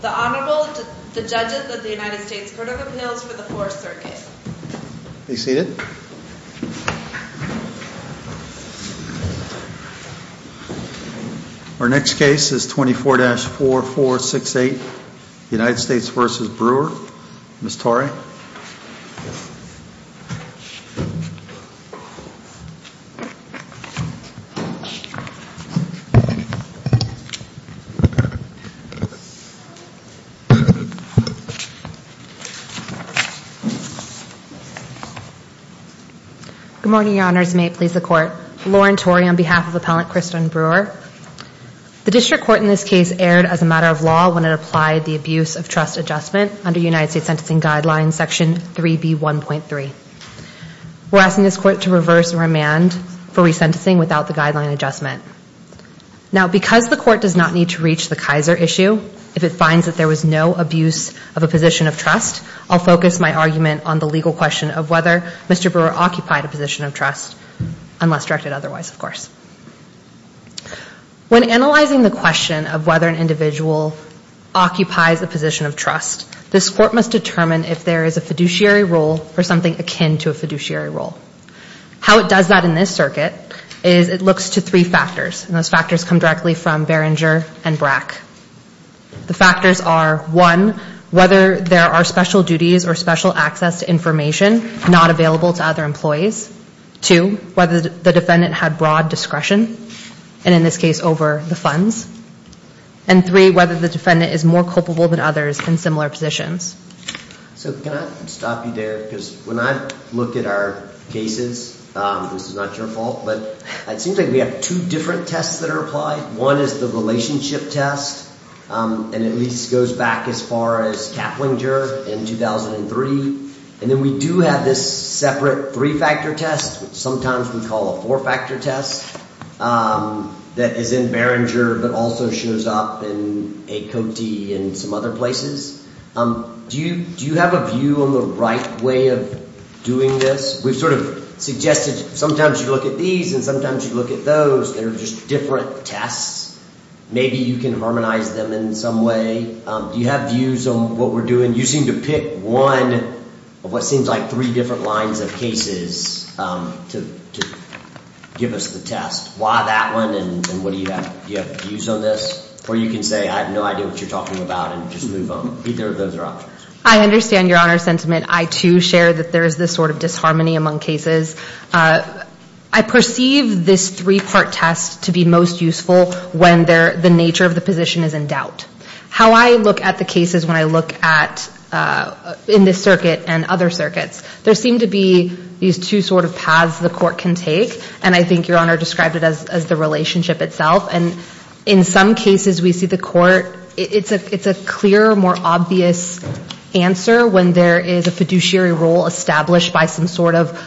The Honorable, the Judges of the United States Court of Appeals for the Fourth Circuit Be seated Our next case is 24-4468 United States v. Brewer Ms. Torrey Good morning, Your Honors. May it please the Court. Lauren Torrey on behalf of Appellant Christon Brewer. The District Court in this case erred as a matter of law when it applied the Abuse of Trust Adjustment under United States Sentencing Guidelines Section 3B1.3. We're asking this Court to reverse remand for resentencing without the guideline adjustment. Now, because the Court does not need to reach the Kaiser issue if it finds that there was no abuse of a position of trust, I'll focus my argument on the legal question of whether Mr. Brewer occupied a position of trust, unless directed otherwise, of course. When analyzing the question of whether an individual occupies a position of trust, this Court must determine if there is a fiduciary rule or something akin to a fiduciary rule. How it does that in this circuit is it looks to three factors. And those factors come directly from Behringer and Brack. The factors are, one, whether there are special duties or special access to information not available to other employees. Two, whether the defendant had broad discretion, and in this case over the funds. And three, whether the defendant is more culpable than others in similar positions. So can I stop you there? Because when I look at our cases, this is not your fault, but it seems like we have two different tests that are applied. One is the relationship test, and at least goes back as far as Kaplinger in 2003. And then we do have this separate three-factor test, which sometimes we call a four-factor test, that is in Behringer but also shows up in A. Cote and some other places. Do you have a view on the right way of doing this? We've sort of suggested sometimes you look at these and sometimes you look at those. They're just different tests. Maybe you can harmonize them in some way. Do you have views on what we're doing? When you seem to pick one of what seems like three different lines of cases to give us the test, why that one and what do you have views on this? Or you can say I have no idea what you're talking about and just move on. Either of those are options. I understand your honor's sentiment. I, too, share that there is this sort of disharmony among cases. I perceive this three-part test to be most useful when the nature of the position is in doubt. How I look at the cases when I look at, in this circuit and other circuits, there seem to be these two sort of paths the court can take, and I think your honor described it as the relationship itself. And in some cases we see the court, it's a clearer, more obvious answer when there is a fiduciary role established by some sort of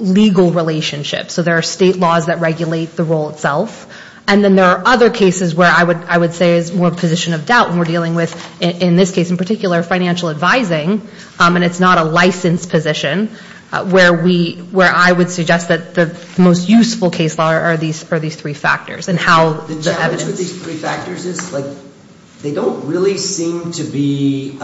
legal relationship. So there are state laws that regulate the role itself. And then there are other cases where I would say it's more a position of doubt when we're dealing with, in this case in particular, financial advising, and it's not a licensed position, where I would suggest that the most useful case law are these three factors. The challenge with these three factors is they don't really seem to be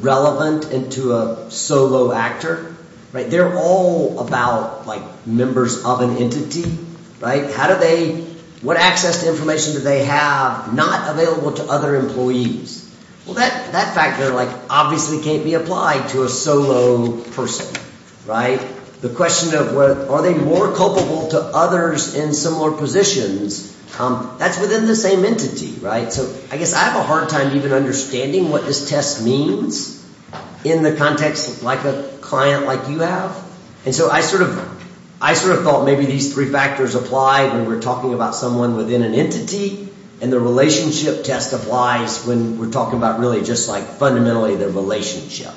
relevant to a solo actor. They're all about members of an entity. How do they, what access to information do they have not available to other employees? Well, that factor obviously can't be applied to a solo person. The question of are they more culpable to others in similar positions, that's within the same entity. So I guess I have a hard time even understanding what this test means in the context like a client like you have. And so I sort of thought maybe these three factors apply when we're talking about someone within an entity and the relationship test applies when we're talking about really just like fundamentally the relationship.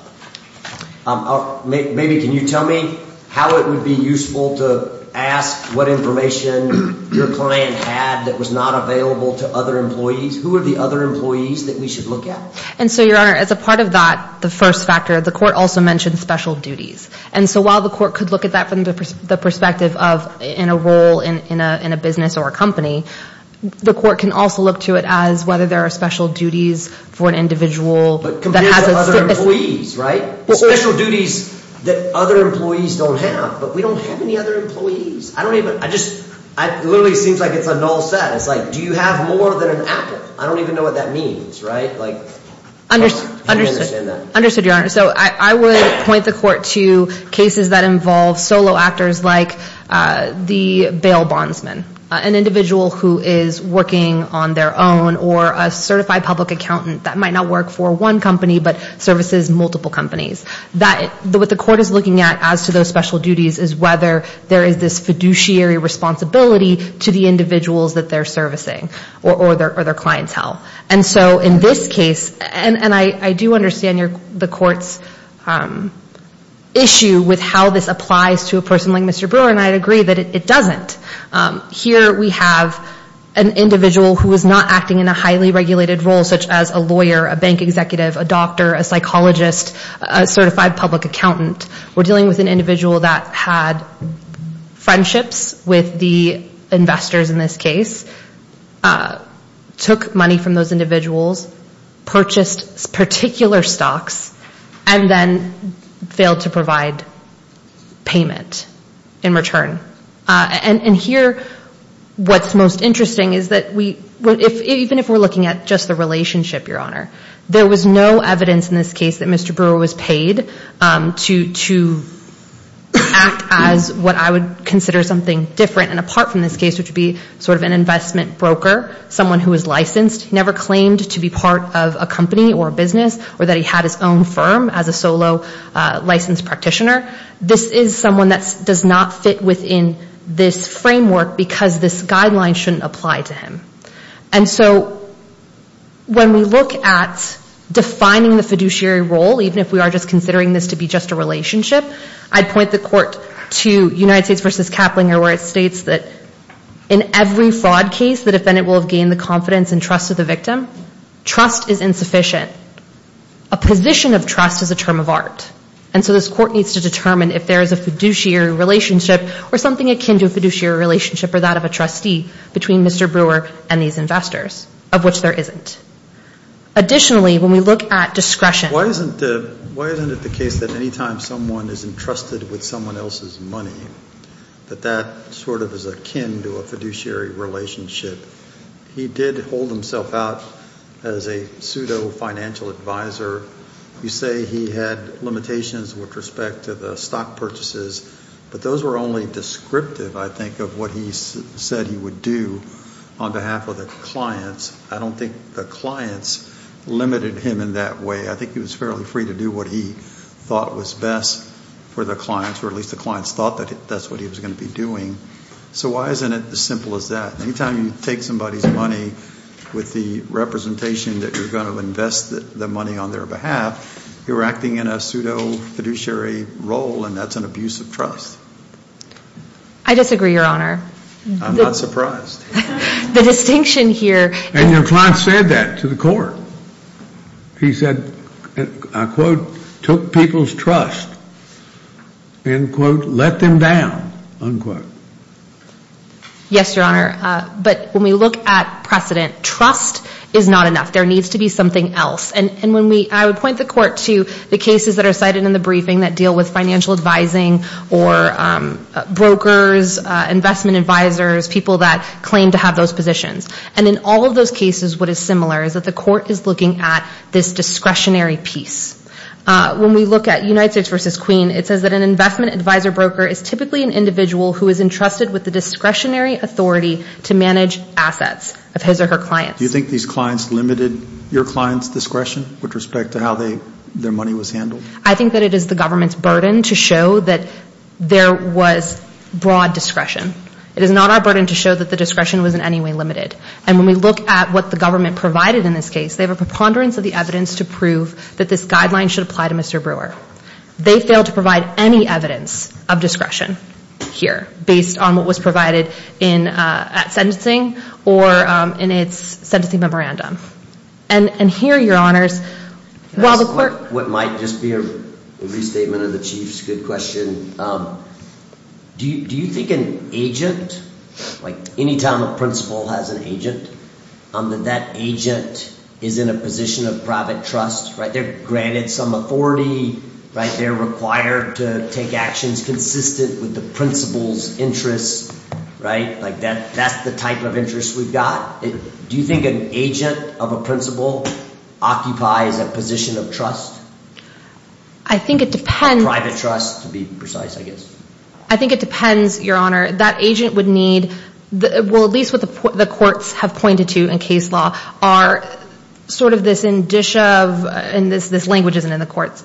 Maybe can you tell me how it would be useful to ask what information your client had that was not available to other employees? Who are the other employees that we should look at? And so, Your Honor, as a part of that, the first factor, the court also mentioned special duties. And so while the court could look at that from the perspective of in a role in a business or a company, the court can also look to it as whether there are special duties for an individual. But compared to other employees, right? Special duties that other employees don't have. But we don't have any other employees. I don't even, I just, it literally seems like it's a null set. It's like do you have more than an apple? I don't even know what that means, right? Like, I don't understand that. Understood, Your Honor. So I would point the court to cases that involve solo actors like the bail bondsman. An individual who is working on their own or a certified public accountant that might not work for one company but services multiple companies. What the court is looking at as to those special duties is whether there is this fiduciary responsibility to the individuals that they're servicing or their clientele. And so in this case, and I do understand the court's issue with how this applies to a person like Mr. Brewer and I agree that it doesn't. Here we have an individual who is not acting in a highly regulated role such as a lawyer, a bank executive, a doctor, a psychologist, a certified public accountant. We're dealing with an individual that had friendships with the investors in this case, took money from those individuals, purchased particular stocks, and then failed to provide payment in return. And here what's most interesting is that even if we're looking at just the relationship, Your Honor, there was no evidence in this case that Mr. Brewer was paid to act as what I would consider something different and apart from this case which would be sort of an investment broker, someone who is licensed, never claimed to be part of a company or a business or that he had his own firm as a solo licensed practitioner. This is someone that does not fit within this framework because this guideline shouldn't apply to him. And so when we look at defining the fiduciary role, even if we are just considering this to be just a relationship, I'd point the court to United States v. Kaplinger where it states that in every fraud case, the defendant will have gained the confidence and trust of the victim. Trust is insufficient. A position of trust is a term of art. And so this court needs to determine if there is a fiduciary relationship or something akin to a fiduciary relationship or that of a trustee between Mr. Brewer and these investors, of which there isn't. Additionally, when we look at discretion. Why isn't it the case that anytime someone is entrusted with someone else's money, that that sort of is akin to a fiduciary relationship? He did hold himself out as a pseudo-financial advisor. You say he had limitations with respect to the stock purchases, but those were only descriptive, I think, of what he said he would do on behalf of the clients. I don't think the clients limited him in that way. I think he was fairly free to do what he thought was best for the clients, or at least the clients thought that that's what he was going to be doing. So why isn't it as simple as that? Anytime you take somebody's money with the representation that you're going to invest the money on their behalf, you're acting in a pseudo-fiduciary role, and that's an abuse of trust. I disagree, Your Honor. I'm not surprised. The distinction here. And your client said that to the court. He said, I quote, took people's trust and, quote, let them down, unquote. Yes, Your Honor. But when we look at precedent, trust is not enough. There needs to be something else. And I would point the court to the cases that are cited in the briefing that deal with financial advising or brokers, investment advisors, people that claim to have those positions. And in all of those cases, what is similar is that the court is looking at this discretionary piece. When we look at United States v. Queen, it says that an investment advisor broker is typically an individual who is entrusted with the discretionary authority to manage assets of his or her clients. Do you think these clients limited your client's discretion with respect to how their money was handled? I think that it is the government's burden to show that there was broad discretion. It is not our burden to show that the discretion was in any way limited. And when we look at what the government provided in this case, they have a preponderance of the evidence to prove that this guideline should apply to Mr. Brewer. They failed to provide any evidence of discretion here, based on what was provided at sentencing or in its sentencing memorandum. And here, Your Honors, while the court- Can I ask what might just be a restatement of the Chief's good question? Do you think an agent, like any time a principal has an agent, that that agent is in a position of private trust, right? They're granted some authority, right? They're required to take actions consistent with the principal's interests, right? Like that's the type of interest we've got. Do you think an agent of a principal occupies a position of trust? I think it depends- Private trust, to be precise, I guess. I think it depends, Your Honor. That agent would need, well, at least what the courts have pointed to in case law, are sort of this indicia of, and this language isn't in the court's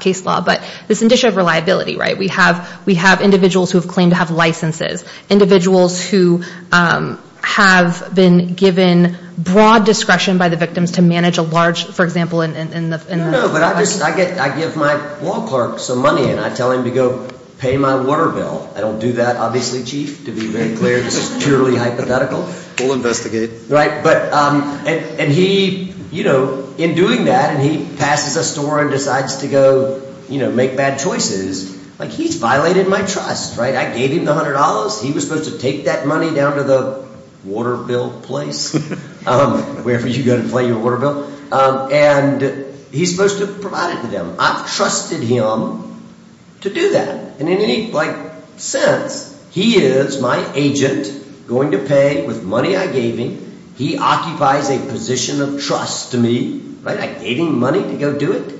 case law, but this indicia of reliability, right? We have individuals who have claimed to have licenses, individuals who have been given broad discretion by the victims to manage a large, for example- No, but I give my law clerk some money, and I tell him to go pay my water bill. I don't do that, obviously, Chief, to be very clear. It's purely hypothetical. We'll investigate. Right, and he, you know, in doing that, and he passes a store and decides to go make bad choices, like he's violated my trust, right? I gave him the $100. He was supposed to take that money down to the water bill place, wherever you go to pay your water bill. And he's supposed to provide it to them. I've trusted him to do that. In any sense, he is my agent, going to pay with money I gave him. He occupies a position of trust to me, right? I gave him money to go do it.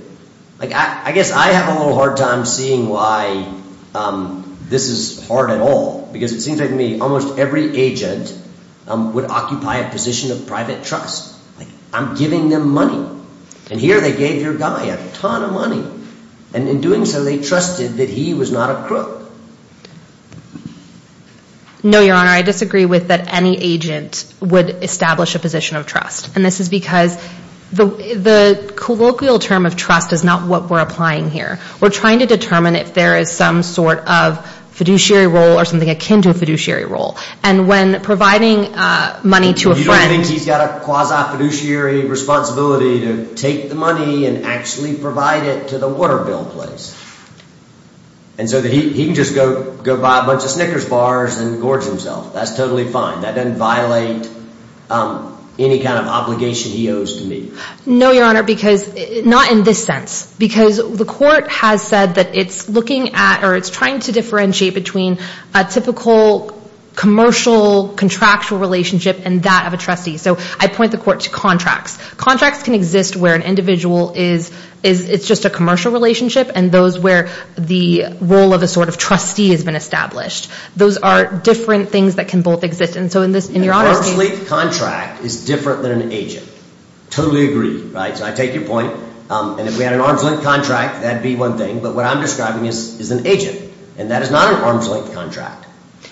I guess I have a little hard time seeing why this is hard at all, because it seems to me almost every agent would occupy a position of private trust. I'm giving them money, and here they gave your guy a ton of money, and in doing so, they trusted that he was not a crook. No, Your Honor, I disagree with that any agent would establish a position of trust, and this is because the colloquial term of trust is not what we're applying here. We're trying to determine if there is some sort of fiduciary role or something akin to a fiduciary role, and when providing money to a friend I think he's got a quasi-fiduciary responsibility to take the money and actually provide it to the water bill place. And so he can just go buy a bunch of Snickers bars and gorge himself. That's totally fine. That doesn't violate any kind of obligation he owes to me. No, Your Honor, because not in this sense, because the court has said that it's looking at or it's trying to differentiate between a typical commercial contractual relationship and that of a trustee. So I point the court to contracts. Contracts can exist where an individual is just a commercial relationship and those where the role of a sort of trustee has been established. Those are different things that can both exist. And so in this, in Your Honor's case— An arm's length contract is different than an agent. Totally agree, right? So I take your point, and if we had an arm's length contract, that'd be one thing, but what I'm describing is an agent, and that is not an arm's length contract,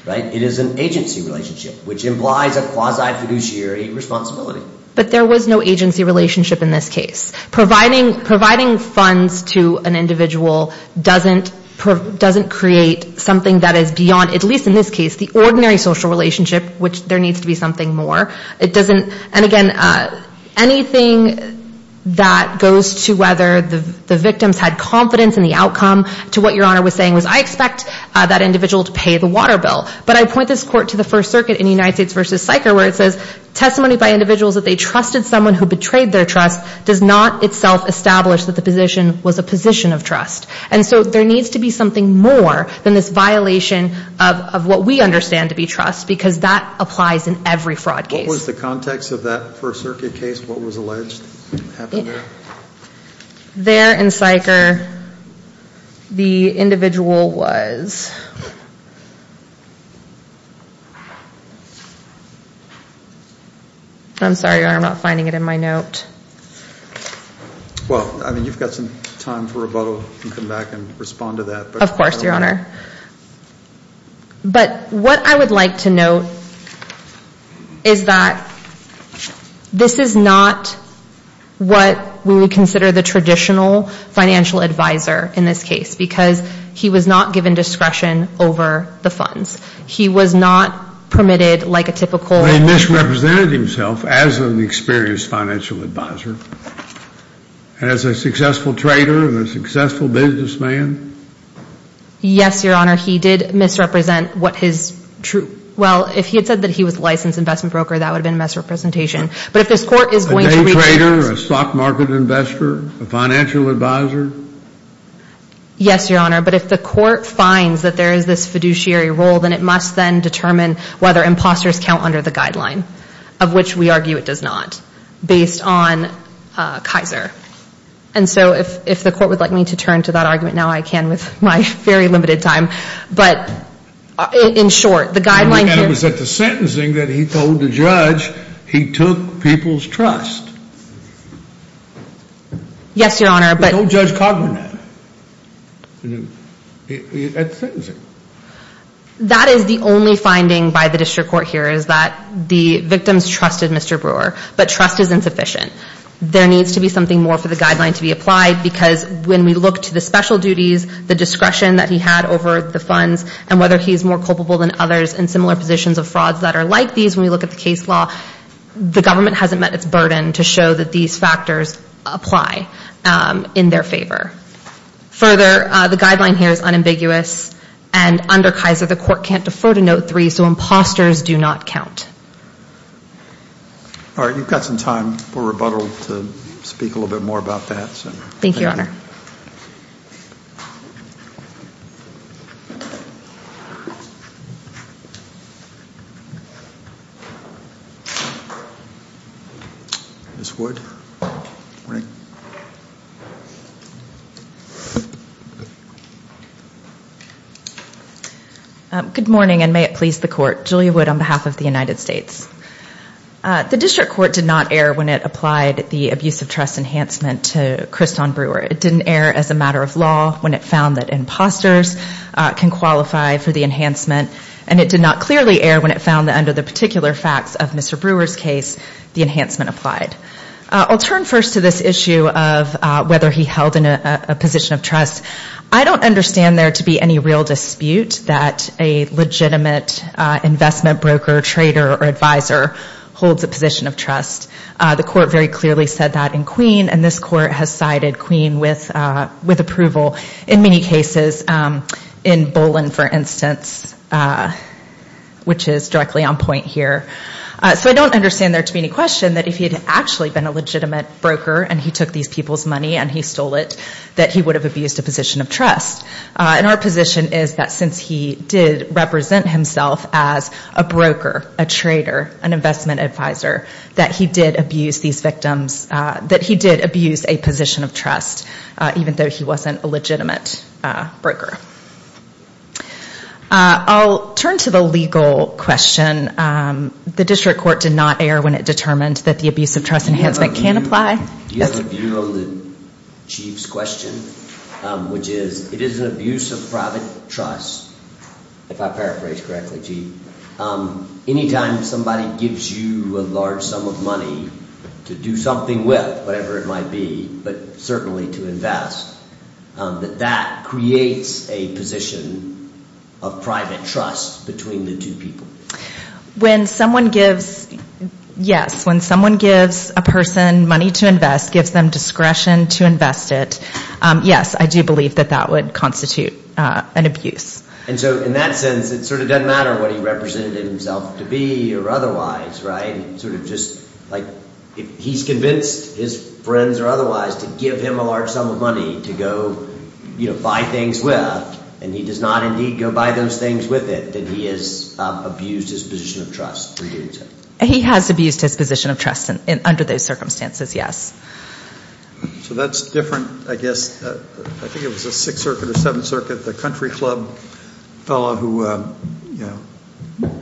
right? It is an agency relationship, which implies a quasi-fiduciary responsibility. But there was no agency relationship in this case. Providing funds to an individual doesn't create something that is beyond, at least in this case, the ordinary social relationship, which there needs to be something more. And again, anything that goes to whether the victims had confidence in the outcome to what Your Honor was saying was, I expect that individual to pay the water bill. But I point this court to the First Circuit in United States v. Syker where it says testimony by individuals that they trusted someone who betrayed their trust does not itself establish that the position was a position of trust. And so there needs to be something more than this violation of what we understand to be trust because that applies in every fraud case. What was the context of that First Circuit case? What was alleged that happened there? There in Syker, the individual was. I'm sorry, Your Honor, I'm not finding it in my note. Well, I mean, you've got some time for rebuttal. You can come back and respond to that. Of course, Your Honor. But what I would like to note is that this is not what we would consider the traditional financial advisor in this case because he was not given discretion over the funds. He was not permitted like a typical. He misrepresented himself as an experienced financial advisor, as a successful trader and a successful businessman. Yes, Your Honor. He did misrepresent what his true. Well, if he had said that he was a licensed investment broker, that would have been a misrepresentation. But if this court is going to. A day trader, a stock market investor, a financial advisor. Yes, Your Honor. But if the court finds that there is this fiduciary role, then it must then determine whether imposters count under the guideline, of which we argue it does not, based on Kaiser. And so if the court would like me to turn to that argument now, I can with my very limited time. But in short, the guideline. It was at the sentencing that he told the judge he took people's trust. Yes, Your Honor. He told Judge Cogman that. At the sentencing. That is the only finding by the district court here, is that the victims trusted Mr. Brewer. But trust is insufficient. There needs to be something more for the guideline to be applied. Because when we look to the special duties, the discretion that he had over the funds, and whether he is more culpable than others in similar positions of frauds that are like these, when we look at the case law, the government hasn't met its burden to show that these factors apply in their favor. Further, the guideline here is unambiguous. And under Kaiser, the court can't defer to note three. So imposters do not count. All right. You've got some time for rebuttal to speak a little bit more about that. Thank you, Your Honor. Ms. Wood. Good morning, and may it please the court. Julia Wood on behalf of the United States. The district court did not err when it applied the abuse of trust enhancement to Kriston Brewer. It didn't err as a matter of law when it found that imposters can qualify for the enhancement. And it did not clearly err when it found that under the particular facts of Mr. Brewer's case, the enhancement applied. I'll turn first to this issue of whether he held in a position of trust. I don't understand there to be any real dispute that a legitimate investment broker, trader, or advisor holds a position of trust. The court very clearly said that in Queen, and this court has cited Queen with approval in many cases, in Bolin, for instance, which is directly on point here. So I don't understand there to be any question that if he had actually been a legitimate broker and he took these people's money and he stole it, that he would have abused a position of trust. And our position is that since he did represent himself as a broker, a trader, an investment advisor, that he did abuse these victims, that he did abuse a position of trust, even though he wasn't a legitimate broker. I'll turn to the legal question. The district court did not err when it determined that the abuse of trust enhancement can apply. Do you have a view on the Chief's question, which is it is an abuse of private trust, if I paraphrase correctly, Chief, any time somebody gives you a large sum of money to do something with, whatever it might be, but certainly to invest, that that creates a position of private trust between the two people? When someone gives, yes, when someone gives a person money to invest, gives them discretion to invest it, yes, I do believe that that would constitute an abuse. And so in that sense, it sort of doesn't matter what he represented himself to be or otherwise, right? Sort of just like if he's convinced his friends or otherwise to give him a large sum of money to go buy things with, and he does not indeed go buy those things with it, then he has abused his position of trust. He has abused his position of trust under those circumstances, yes. So that's different, I guess, I think it was the Sixth Circuit or Seventh Circuit, the country club fellow who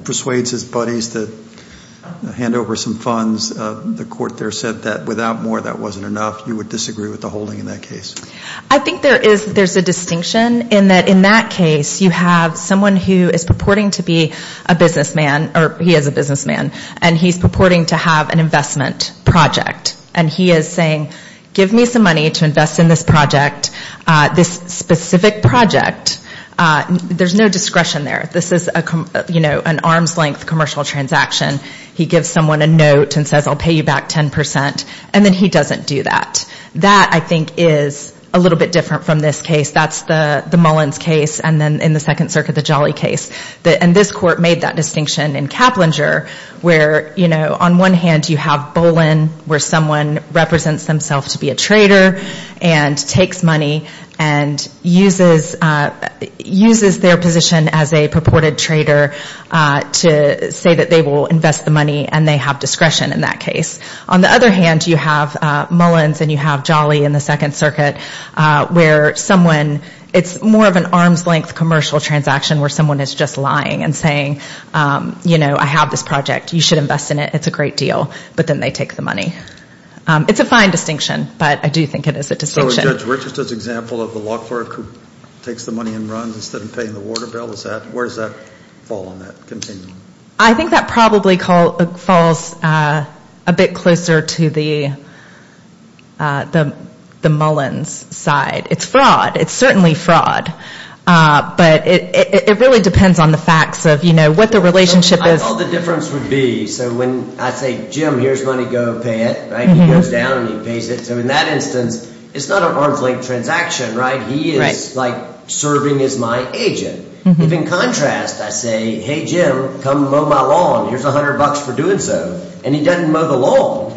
persuades his buddies to hand over some funds, the court there said that without more, that wasn't enough, you would disagree with the holding in that case. I think there is a distinction in that in that case, you have someone who is purporting to be a businessman, or he is a businessman, and he's purporting to have an investment project. And he is saying, give me some money to invest in this project, this specific project. There's no discretion there. This is an arm's length commercial transaction. He gives someone a note and says, I'll pay you back 10 percent, and then he doesn't do that. That, I think, is a little bit different from this case. That's the Mullins case, and then in the Second Circuit, the Jolly case. And this court made that distinction in Caplinger, where, you know, on one hand, you have Bolin, where someone represents themselves to be a trader and takes money and uses their position as a purported trader to say that they will invest the money, and they have discretion in that case. On the other hand, you have Mullins, and you have Jolly in the Second Circuit, where someone, it's more of an arm's length commercial transaction where someone is just lying and saying, you know, I have this project. You should invest in it. It's a great deal. But then they take the money. It's a fine distinction, but I do think it is a distinction. So is Judge Richardson's example of the law clerk who takes the money and runs instead of paying the water bill, where does that fall on that continuum? I think that probably falls a bit closer to the Mullins side. It's fraud. It's certainly fraud. But it really depends on the facts of, you know, what the relationship is. That's all the difference would be. So when I say, Jim, here's money, go pay it, right, he goes down and he pays it. So in that instance, it's not an arm's length transaction, right? He is, like, serving as my agent. If, in contrast, I say, hey, Jim, come mow my lawn. Here's $100 for doing so. And he doesn't mow the lawn,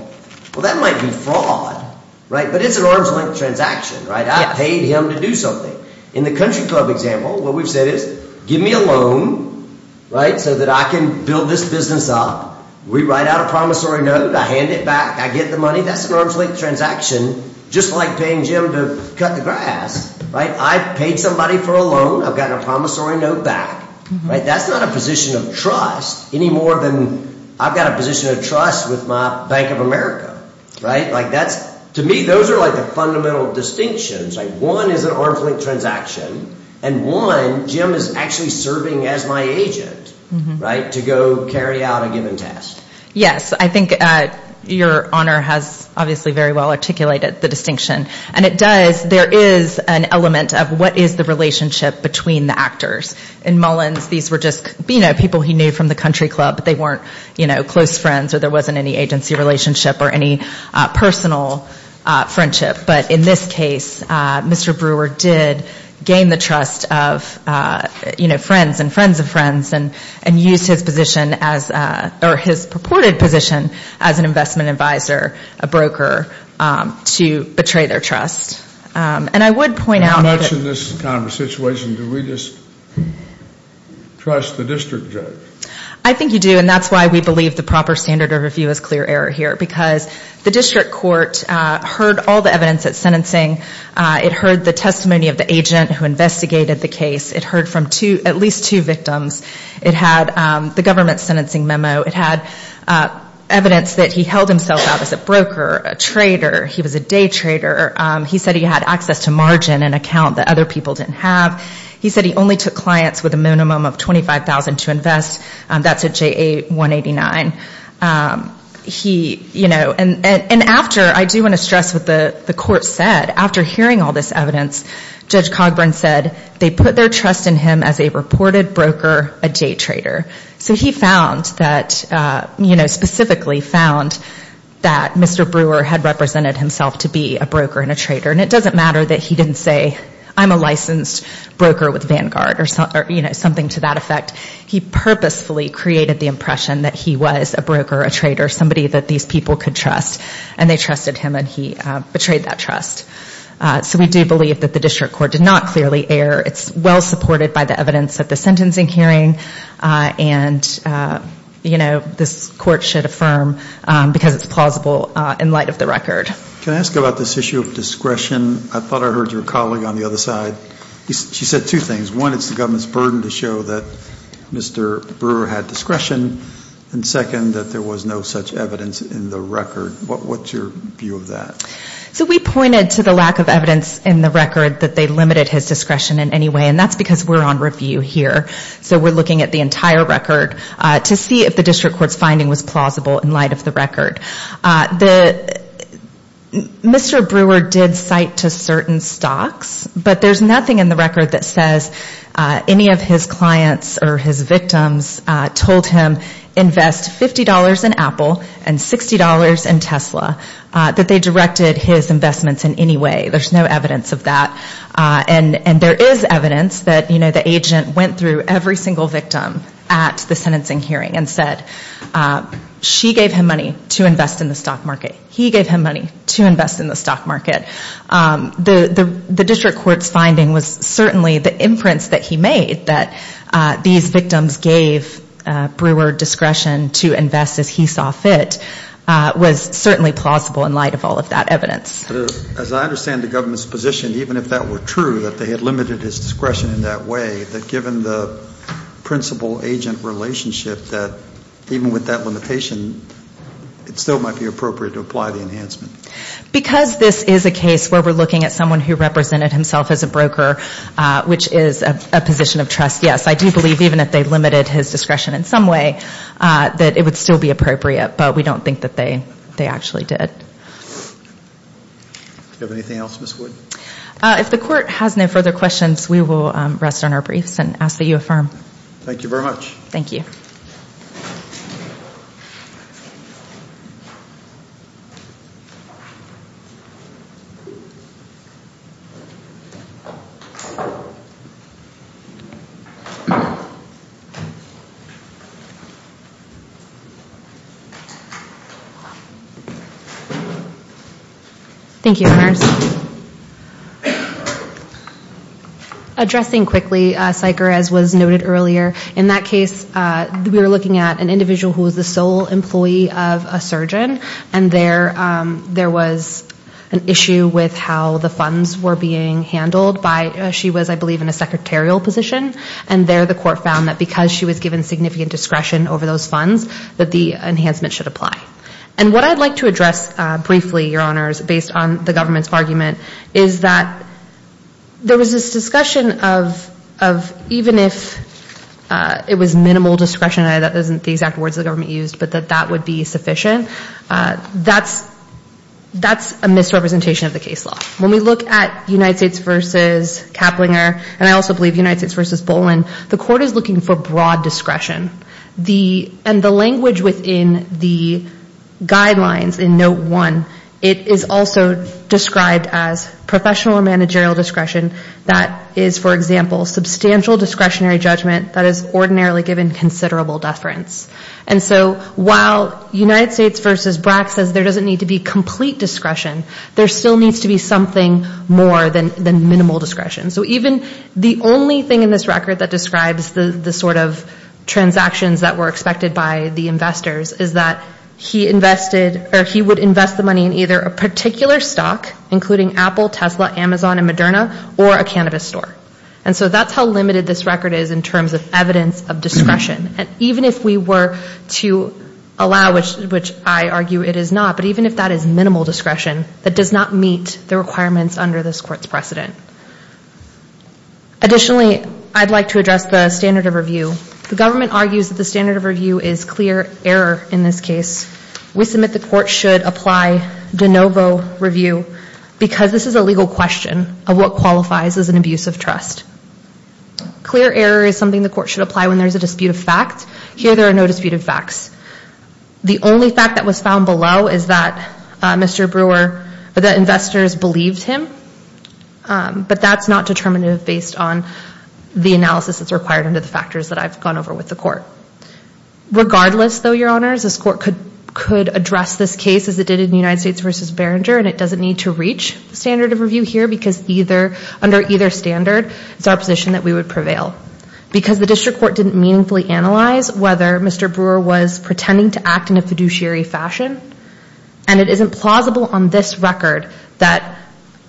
well, that might be fraud, right? But it's an arm's length transaction, right? I paid him to do something. In the country club example, what we've said is give me a loan, right, so that I can build this business up. We write out a promissory note. I hand it back. I get the money. That's an arm's length transaction, just like paying Jim to cut the grass, right? I paid somebody for a loan. I've gotten a promissory note back, right? That's not a position of trust any more than I've got a position of trust with my Bank of America, right? Like, that's, to me, those are, like, the fundamental distinctions. Like, one is an arm's length transaction, and one, Jim is actually serving as my agent, right, to go carry out a given task. Yes, I think your honor has obviously very well articulated the distinction. And it does, there is an element of what is the relationship between the actors. In Mullins, these were just, you know, people he knew from the country club, but they weren't, you know, close friends, or there wasn't any agency relationship or any personal friendship. But in this case, Mr. Brewer did gain the trust of, you know, friends and friends of friends and used his position as, or his purported position as an investment advisor, a broker, to betray their trust. And I would point out. How much in this kind of situation do we just trust the district judge? I think you do, and that's why we believe the proper standard of review is clear error here, because the district court heard all the evidence at sentencing. It heard the testimony of the agent who investigated the case. It heard from at least two victims. It had the government's sentencing memo. It had evidence that he held himself out as a broker, a trader. He was a day trader. He said he had access to margin, an account that other people didn't have. He said he only took clients with a minimum of $25,000 to invest. That's a JA 189. He, you know, and after, I do want to stress what the court said. After hearing all this evidence, Judge Cogburn said they put their trust in him as a reported broker, a day trader. So he found that, you know, specifically found that Mr. Brewer had represented himself to be a broker and a trader. And it doesn't matter that he didn't say I'm a licensed broker with Vanguard or something to that effect. He purposefully created the impression that he was a broker, a trader, somebody that these people could trust. And they trusted him, and he betrayed that trust. So we do believe that the district court did not clearly err. It's well supported by the evidence at the sentencing hearing. And, you know, this court should affirm because it's plausible in light of the record. Can I ask about this issue of discretion? I thought I heard your colleague on the other side. She said two things. One, it's the government's burden to show that Mr. Brewer had discretion. And second, that there was no such evidence in the record. What's your view of that? So we pointed to the lack of evidence in the record that they limited his discretion in any way. And that's because we're on review here. So we're looking at the entire record to see if the district court's finding was plausible in light of the record. Mr. Brewer did cite to certain stocks. But there's nothing in the record that says any of his clients or his victims told him, invest $50 in Apple and $60 in Tesla, that they directed his investments in any way. There's no evidence of that. And there is evidence that, you know, the agent went through every single victim at the sentencing hearing and said she gave him money to invest in the stock market. He gave him money to invest in the stock market. The district court's finding was certainly the imprints that he made, that these victims gave Brewer discretion to invest as he saw fit, was certainly plausible in light of all of that evidence. But as I understand the government's position, even if that were true, that they had limited his discretion in that way, that given the principal-agent relationship, that even with that limitation, it still might be appropriate to apply the enhancement. Because this is a case where we're looking at someone who represented himself as a broker, which is a position of trust, yes, I do believe, even if they limited his discretion in some way, that it would still be appropriate. But we don't think that they actually did. Do you have anything else, Ms. Wood? If the court has no further questions, we will rest on our briefs and ask that you affirm. Thank you very much. Thank you. Thank you. Thank you. Addressing quickly, Syker, as was noted earlier, in that case we were looking at an individual who was the sole employee of a surgeon, and there was an issue with how the funds were being handled. She was, I believe, in a secretarial position. And there the court found that because she was given significant discretion over those funds, that the enhancement should apply. And what I'd like to address briefly, Your Honors, based on the government's argument, is that there was this discussion of even if it was minimal discretion, and that isn't the exact words the government used, but that that would be sufficient, that's a misrepresentation of the case law. When we look at United States v. Kaplinger, and I also believe United States v. Bolin, the court is looking for broad discretion. And the language within the guidelines in Note 1, it is also described as professional or managerial discretion that is, for example, substantial discretionary judgment that is ordinarily given considerable deference. And so while United States v. Brack says there doesn't need to be complete discretion, there still needs to be something more than minimal discretion. So even the only thing in this record that describes the sort of transactions that were expected by the investors is that he invested or he would invest the money in either a particular stock, including Apple, Tesla, Amazon, and Moderna, or a cannabis store. And so that's how limited this record is in terms of evidence of discretion. And even if we were to allow, which I argue it is not, but even if that is minimal discretion, that does not meet the requirements under this court's precedent. Additionally, I'd like to address the standard of review. The government argues that the standard of review is clear error in this case. We submit the court should apply de novo review because this is a legal question of what qualifies as an abuse of trust. Clear error is something the court should apply when there's a dispute of fact. Here there are no dispute of facts. The only fact that was found below is that Mr. Brewer, that investors believed him, but that's not determinative based on the analysis that's required under the factors that I've gone over with the court. Regardless, though, Your Honors, this court could address this case as it did in United States v. Berenger, and it doesn't need to reach the standard of review here because under either standard it's our position that we would prevail. Because the district court didn't meaningfully analyze whether Mr. Brewer was pretending to act in a fiduciary fashion, and it isn't plausible on this record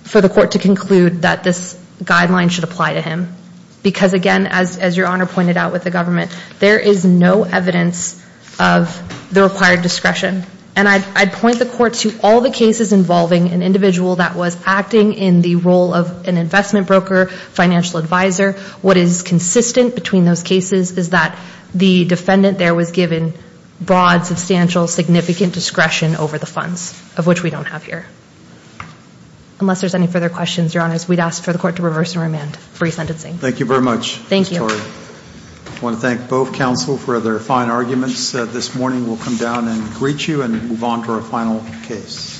for the court to conclude that this guideline should apply to him. Because, again, as Your Honor pointed out with the government, there is no evidence of the required discretion. And I'd point the court to all the cases involving an individual that was acting in the role of an investment broker, financial advisor. What is consistent between those cases is that the defendant there was given broad, substantial, significant discretion over the funds, of which we don't have here. Unless there's any further questions, Your Honors, we'd ask for the court to reverse and remand free sentencing. Thank you very much, Victoria. Thank you. I want to thank both counsel for their fine arguments this morning. We'll come down and greet you and move on to our final case.